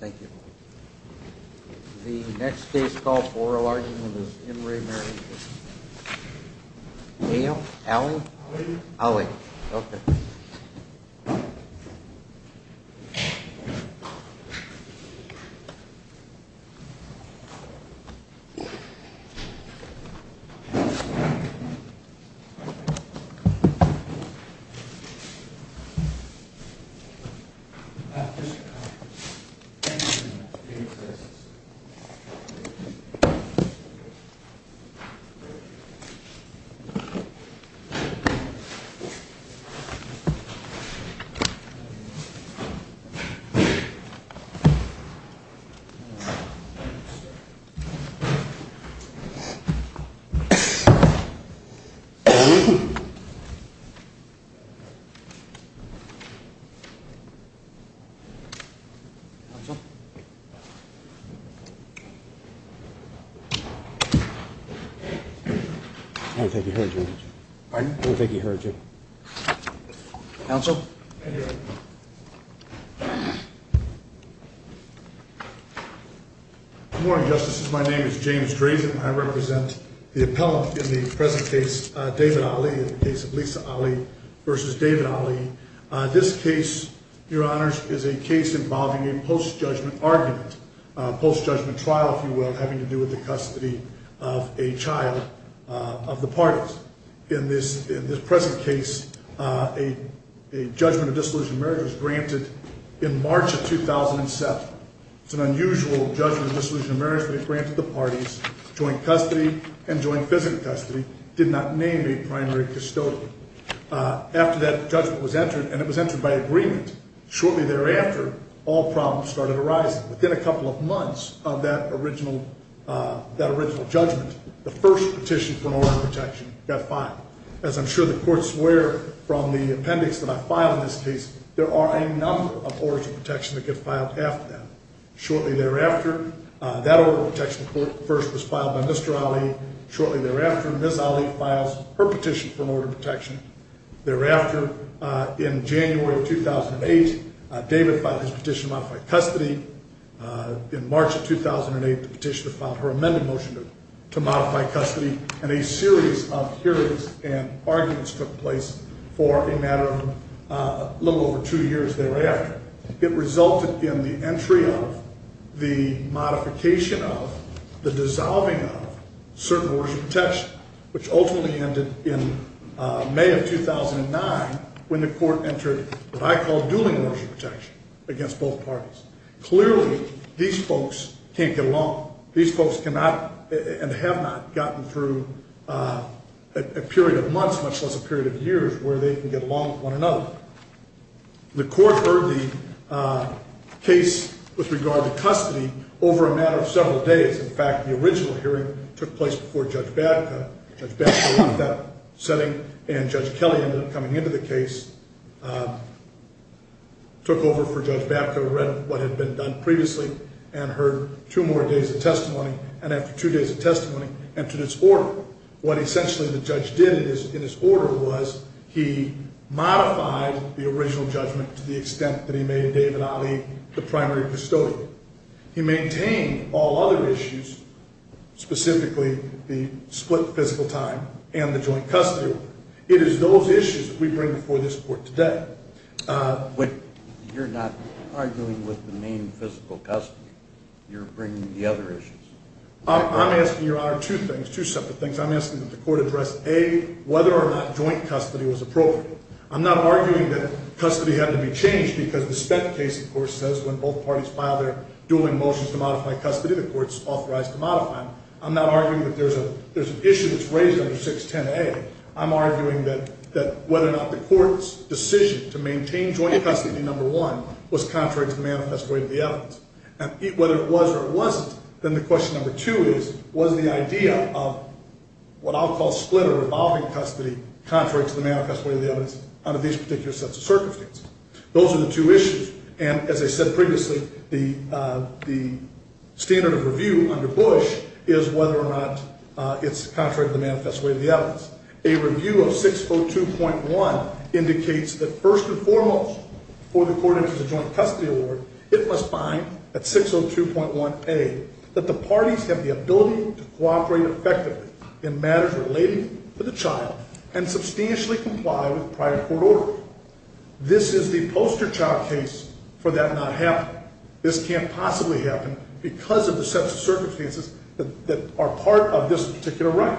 Thank you. The next day's call for a large number of Henry Mary. Yeah. Yeah. Yeah. Yeah. Yeah. Yeah. Yeah. Yeah. Yeah. Yeah. Yeah. Yeah. I don't think he heard you. Pardon? I don't think he heard you. Counsel? I'm here. Good morning, Justices. My name is James Drazen. I represent the appellate in the present case, David Ali, in the case of Lisa Ali versus David Ali. This case, Your Honors, is a case involving a post-judgment argument, a post-judgment trial, if you will, having to do with the custody of a child of the parties. In this present case, a judgment of disillusioned marriage was granted in March of 2007. It's an unusual judgment of disillusioned marriage, but it granted the parties joint custody and joint physical custody. It did not name a primary custodian. After that judgment was entered, and it was entered by agreement, shortly thereafter, all problems started arising. Within a couple of months of that original judgment, the first petition for an order of protection got filed. As I'm sure the courts swear from the appendix that I file in this case, there are a number of orders of protection that get filed after that. Shortly thereafter, that order of protection first was filed by Mr. Ali. Shortly thereafter, Ms. Ali files her petition for an order of protection. Thereafter, in January of 2008, David filed his petition to modify custody. In March of 2008, the petitioner filed her amended motion to modify custody, and a series of hearings and arguments took place for a matter of a little over two years thereafter. It resulted in the entry of, the modification of, the dissolving of certain orders of protection, which ultimately ended in May of 2009 when the court entered what I call dueling orders of protection against both parties. Clearly, these folks can't get along. These folks cannot and have not gotten through a period of months, much less a period of years, where they can get along with one another. The court heard the case with regard to custody over a matter of several days. In fact, the original hearing took place before Judge Babco. Judge Babco heard that setting, and Judge Kelly ended up coming into the case, took over for Judge Babco, read what had been done previously, and heard two more days of testimony, and after two days of testimony, entered its order. What essentially the judge did in his order was he modified the original judgment to the extent that he made David Ali the primary custodian. He maintained all other issues, specifically the split physical time and the joint custody order. It is those issues that we bring before this court today. But you're not arguing with the main physical custody. You're bringing the other issues. I'm asking, Your Honor, two things, two separate things. I'm asking that the court address, A, whether or not joint custody was appropriate. I'm not arguing that custody had to be changed because the Spett case, of course, says when both parties file their dueling motions to modify custody, the court's authorized to modify them. I'm not arguing that there's an issue that's raised under 610A. I'm arguing that whether or not the court's decision to maintain joint custody, number one, was contrary to the manifest way of the evidence. And whether it was or it wasn't, then the question number two is, was the idea of what I'll call split or revolving custody contrary to the manifest way of the evidence under these particular sets of circumstances? Those are the two issues. And as I said previously, the standard of review under Bush is whether or not it's contrary to the manifest way of the evidence. A review of 602.1 indicates that, first and foremost, for the court to introduce a joint custody award, it must find, at 602.1A, that the parties have the ability to cooperate effectively in matters relating to the child and substantially comply with prior court order. This is the poster child case for that not happening. This can't possibly happen because of the sets of circumstances that are part of this particular right.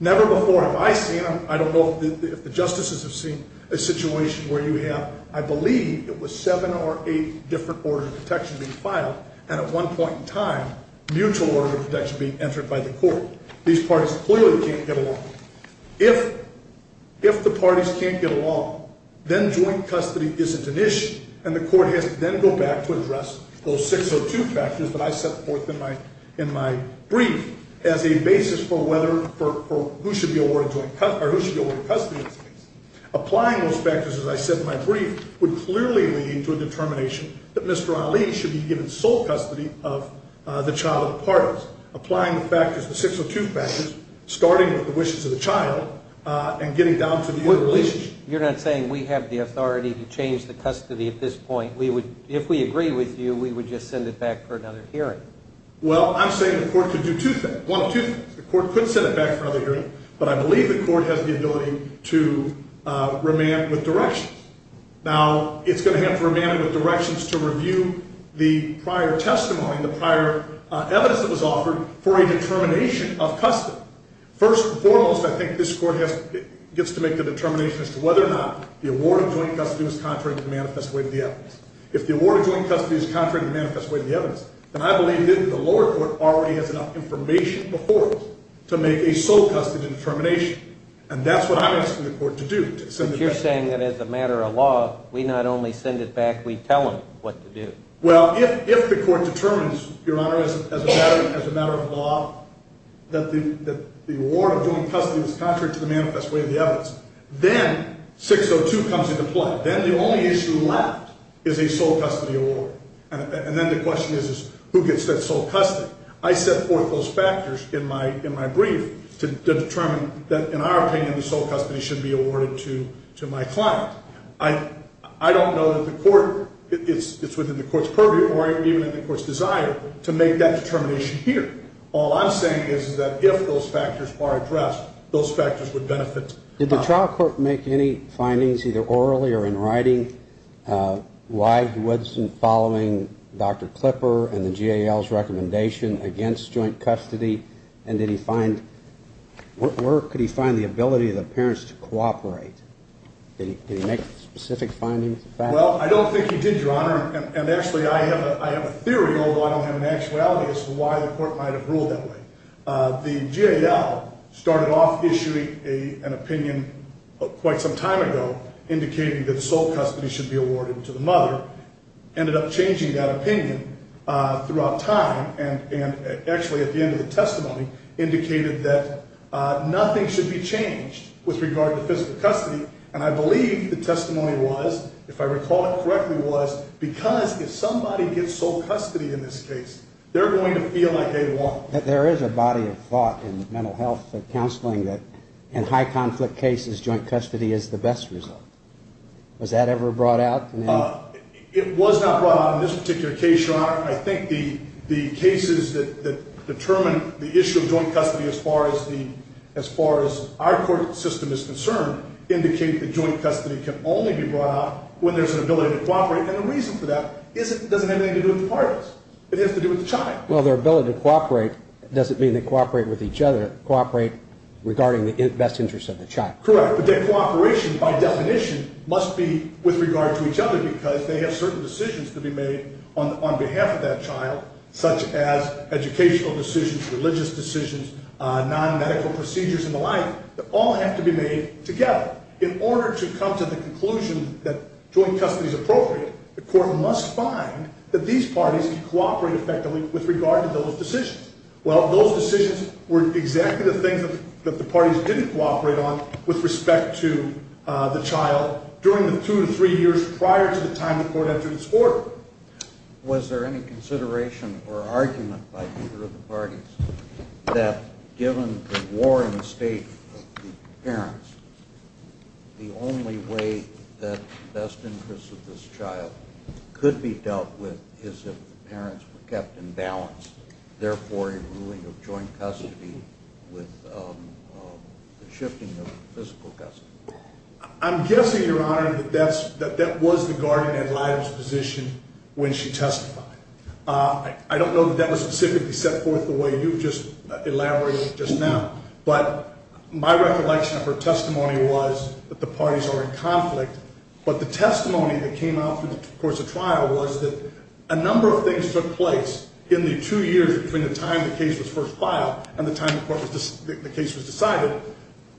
Never before have I seen, I don't know if the justices have seen, a situation where you have, I believe, it was seven or eight different orders of protection being filed, and at one point in time, mutual order of protection being entered by the court. These parties clearly can't get along. If the parties can't get along, then joint custody isn't an issue. And the court has to then go back to address those 602 factors that I set forth in my brief as a basis for who should be awarded custody in this case. Applying those factors, as I said in my brief, would clearly lead to a determination that Mr. Ali should be given sole custody of the child of the parties. Applying the factors, the 602 factors, starting with the wishes of the child and getting down to the interrelationship. You're not saying we have the authority to change the custody at this point? If we agree with you, we would just send it back for another hearing? Well, I'm saying the court could do two things. One of two things. The court could send it back for another hearing, but I believe the court has the ability to remand with directions. Now, it's going to have to remand with directions to review the prior testimony and the prior evidence that was offered for a determination of custody. First and foremost, I think this court gets to make the determination as to whether or not the award of joint custody was contrary to the manifest way of the evidence. If the award of joint custody is contrary to the manifest way of the evidence, then I believe the lower court already has enough information before us to make a sole custody determination. And that's what I'm asking the court to do, to send it back. But you're saying that as a matter of law, we not only send it back, we tell them what to do. Well, if the court determines, Your Honor, as a matter of law, that the award of joint custody was contrary to the manifest way of the evidence, then 602 comes into play. Then the only issue left is a sole custody award. And then the question is, who gets that sole custody? I set forth those factors in my brief to determine that, in our opinion, the sole custody should be awarded to my client. I don't know that the court, it's within the court's purview or even the court's desire to make that determination here. All I'm saying is that if those factors are addressed, those factors would benefit. Did the trial court make any findings, either orally or in writing, why he wasn't following Dr. Klipper and the GAL's recommendation against joint custody? And did he find, where could he find the ability of the parents to cooperate? Did he make specific findings? Well, I don't think he did, Your Honor. And actually, I have a theory, although I don't have an actuality as to why the court might have ruled that way. The GAL started off issuing an opinion quite some time ago, indicating that sole custody should be awarded to the mother, ended up changing that opinion throughout time, and actually, at the end of the testimony, indicated that nothing should be changed with regard to physical custody. And I believe the testimony was, if I recall it correctly, was because if somebody gets sole custody in this case, they're going to feel like they won. There is a body of thought in mental health counseling that in high-conflict cases, joint custody is the best result. Was that ever brought out? It was not brought out in this particular case, Your Honor. I think the cases that determine the issue of joint custody as far as our court system is concerned, indicate that joint custody can only be brought out when there's an ability to cooperate. And the reason for that doesn't have anything to do with the parties. It has to do with the child. Well, their ability to cooperate doesn't mean they cooperate with each other. They cooperate regarding the best interest of the child. Correct. But their cooperation, by definition, must be with regard to each other because they have certain decisions to be made on behalf of that child, such as educational decisions, religious decisions, non-medical procedures and the like, that all have to be made together. In order to come to the conclusion that joint custody is appropriate, the court must find that these parties can cooperate effectively with regard to those decisions. Well, those decisions were exactly the things that the parties didn't cooperate on with respect to the child during the two to three years prior to the time the court entered its order. Was there any consideration or argument by either of the parties that given the warring state of the parents, the only way that the best interest of this child could be dealt with is if the parents were kept in balance, therefore a ruling of joint custody with the shifting of physical custody? I'm guessing, Your Honor, that that was the guardian ad litem's position when she testified. I don't know that that was specifically set forth the way you've just elaborated just now, but my recollection of her testimony was that the parties are in conflict, but the testimony that came out through the course of trial was that a number of things took place in the two years between the time the case was first filed and the time the case was decided,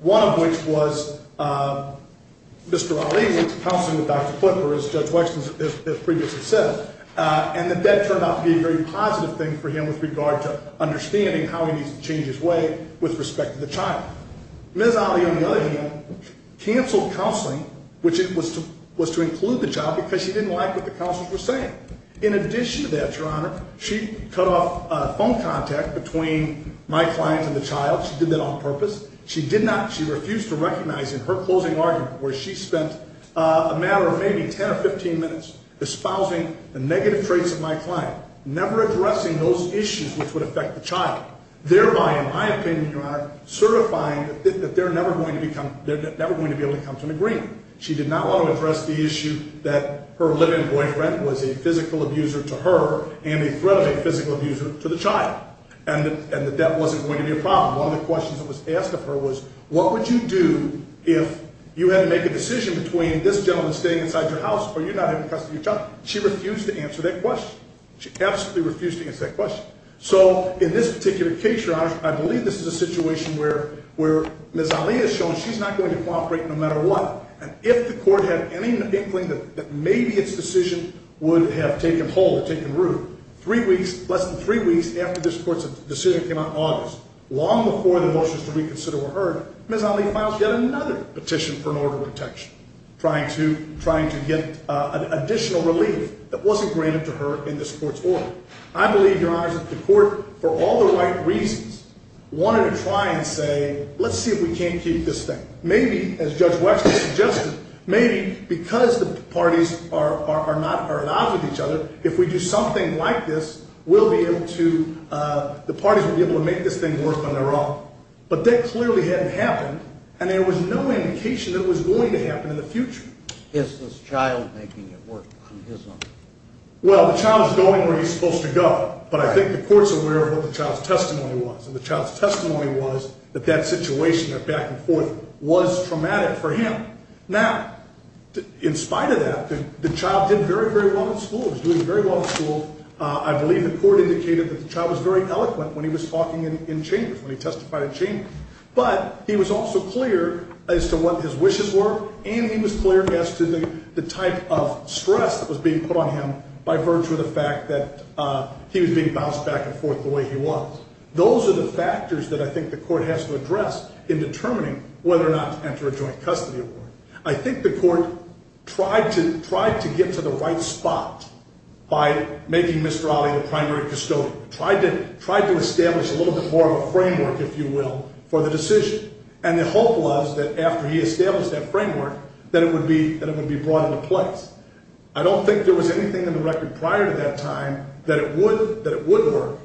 one of which was Mr. Ali's counseling with Dr. Flipper, as Judge Wexner has previously said, and that that turned out to be a very positive thing for him with regard to understanding how he needs to change his way with respect to the child. Ms. Ali, on the other hand, canceled counseling, which was to include the child because she didn't like what the counselors were saying. In addition to that, Your Honor, she cut off phone contact between my client and the child. She did that on purpose. She did not. She refused to recognize in her closing argument where she spent a matter of maybe 10 or 15 minutes espousing the negative traits of my client, never addressing those issues which would affect the child, thereby, in my opinion, Your Honor, certifying that they're never going to be able to come to an agreement. She did not want to address the issue that her live-in boyfriend was a physical abuser to her and a threat of a physical abuser to the child, and that that wasn't going to be a problem. One of the questions that was asked of her was, what would you do if you had to make a decision between this gentleman staying inside your house or you not having custody of your child? She refused to answer that question. She absolutely refused to answer that question. So in this particular case, Your Honor, I believe this is a situation where Ms. Ali has shown she's not going to cooperate no matter what, and if the court had any inkling that maybe its decision would have taken hold or taken root, three weeks, less than three weeks after this court's decision came out in August, long before the motions to reconsider were heard, Ms. Ali filed yet another petition for an order of protection, trying to get additional relief that wasn't granted to her in this court's order. I believe, Your Honor, that the court, for all the right reasons, wanted to try and say, let's see if we can't keep this thing. Maybe, as Judge Wexler suggested, maybe because the parties are at odds with each other, if we do something like this, we'll be able to, the parties will be able to make this thing work on their own. But that clearly hadn't happened, and there was no indication that it was going to happen in the future. Is this child making it work on his own? Well, the child's going where he's supposed to go, but I think the court's aware of what the child's testimony was, and the child's testimony was that that situation, that back and forth, was traumatic for him. Now, in spite of that, the child did very, very well in school. He was doing very well in school. I believe the court indicated that the child was very eloquent when he was talking in chambers, when he testified in chambers. But he was also clear as to what his wishes were, and he was clear as to the type of stress that was being put on him by virtue of the fact that he was being bounced back and forth the way he was. Those are the factors that I think the court has to address in determining whether or not to enter a joint custody award. I think the court tried to get to the right spot by making Mr. Ali the primary custodian, tried to establish a little bit more of a framework, if you will, for the decision, and the hope was that after he established that framework, that it would be brought into place. I don't think there was anything in the record prior to that time that it would work,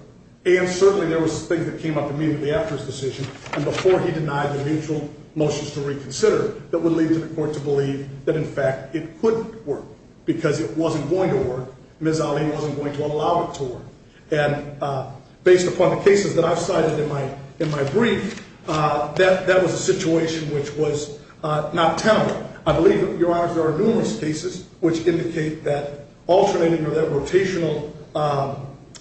and certainly there was things that came up immediately after his decision, and before he denied the mutual motions to reconsider that would lead to the court to believe that, in fact, it could work. Because it wasn't going to work, Ms. Ali wasn't going to allow it to work. And based upon the cases that I've cited in my brief, that was a situation which was not tenable. I believe, Your Honors, there are numerous cases which indicate that alternating or that rotational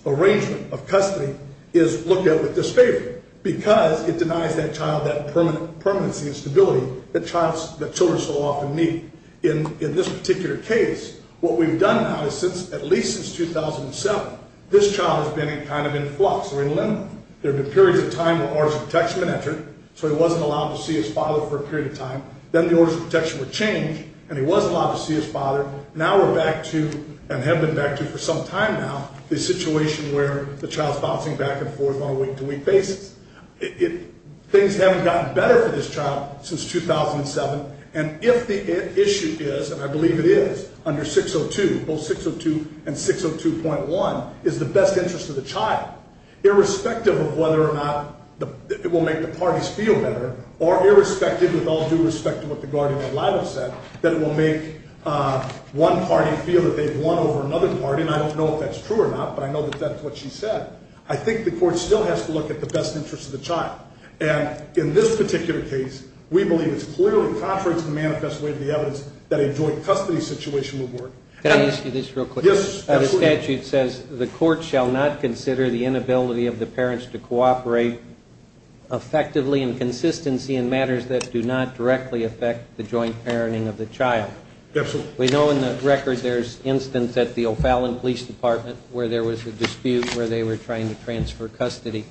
arrangement of custody is looked at with disfavor, because it denies that child that permanency and stability that children so often need. In this particular case, what we've done now is since, at least since 2007, this child has been kind of in flux or in limbo. There have been periods of time where orders of protection have been entered, so he wasn't allowed to see his father for a period of time. Then the orders of protection were changed, and he wasn't allowed to see his father. Now we're back to, and have been back to for some time now, the situation where the child's bouncing back and forth on a week-to-week basis. Things haven't gotten better for this child since 2007. And if the issue is, and I believe it is, under 602, both 602 and 602.1, is the best interest of the child, irrespective of whether or not it will make the parties feel better, or irrespective, with all due respect to what the guardian and liable said, that it will make one party feel that they've won over another party. And I don't know if that's true or not, but I know that that's what she said. I think the court still has to look at the best interest of the child. And in this particular case, we believe it's clearly contrary to the manifest way of the evidence that a joint custody situation would work. Can I ask you this real quick? Yes, absolutely. The statute says the court shall not consider the inability of the parents to cooperate effectively in consistency in matters that do not directly affect the joint parenting of the child. Absolutely. We know in the record there's instance at the O'Fallon Police Department where there was a dispute where they were trying to transfer custody.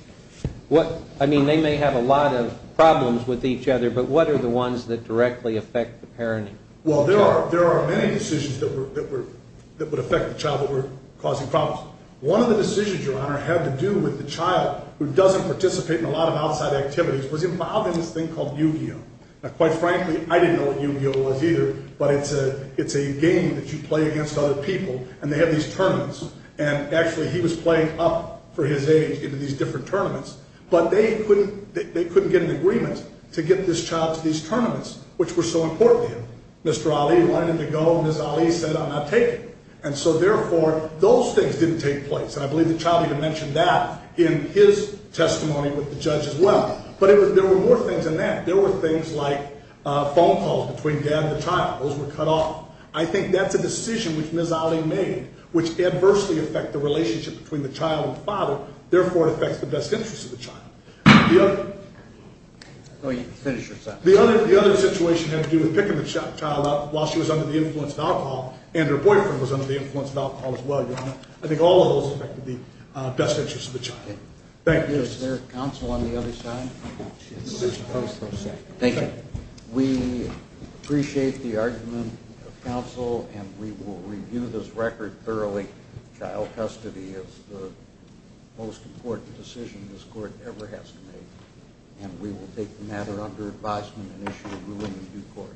I mean, they may have a lot of problems with each other, but what are the ones that directly affect the parenting? Well, there are many decisions that would affect the child that were causing problems. One of the decisions, Your Honor, had to do with the child who doesn't participate in a lot of outside activities, was involved in this thing called Yu-Gi-Oh. Now, quite frankly, I didn't know what Yu-Gi-Oh was either, but it's a game that you play against other people, and they have these tournaments, and actually he was playing up for his age into these different tournaments, but they couldn't get an agreement to get this child to these tournaments, which were so important to him. Mr. Ali wanted him to go, and Ms. Ali said, I'm not taking him. And so, therefore, those things didn't take place. And I believe the child even mentioned that in his testimony with the judge as well. But there were more things than that. There were things like phone calls between dad and the child. Those were cut off. I think that's a decision which Ms. Ali made, which adversely affect the relationship between the child and the father, therefore it affects the best interest of the child. The other... Oh, you can finish your sentence. The other situation had to do with picking the child up while she was under the influence of alcohol, and her boyfriend was under the influence of alcohol as well, Your Honor. I think all of those affected the best interest of the child. Thank you. Is there counsel on the other side? Thank you. We appreciate the argument of counsel, and we will review this record thoroughly. Child custody is the most important decision this court ever has to make, and we will take the matter under advisement and issue a ruling in due course.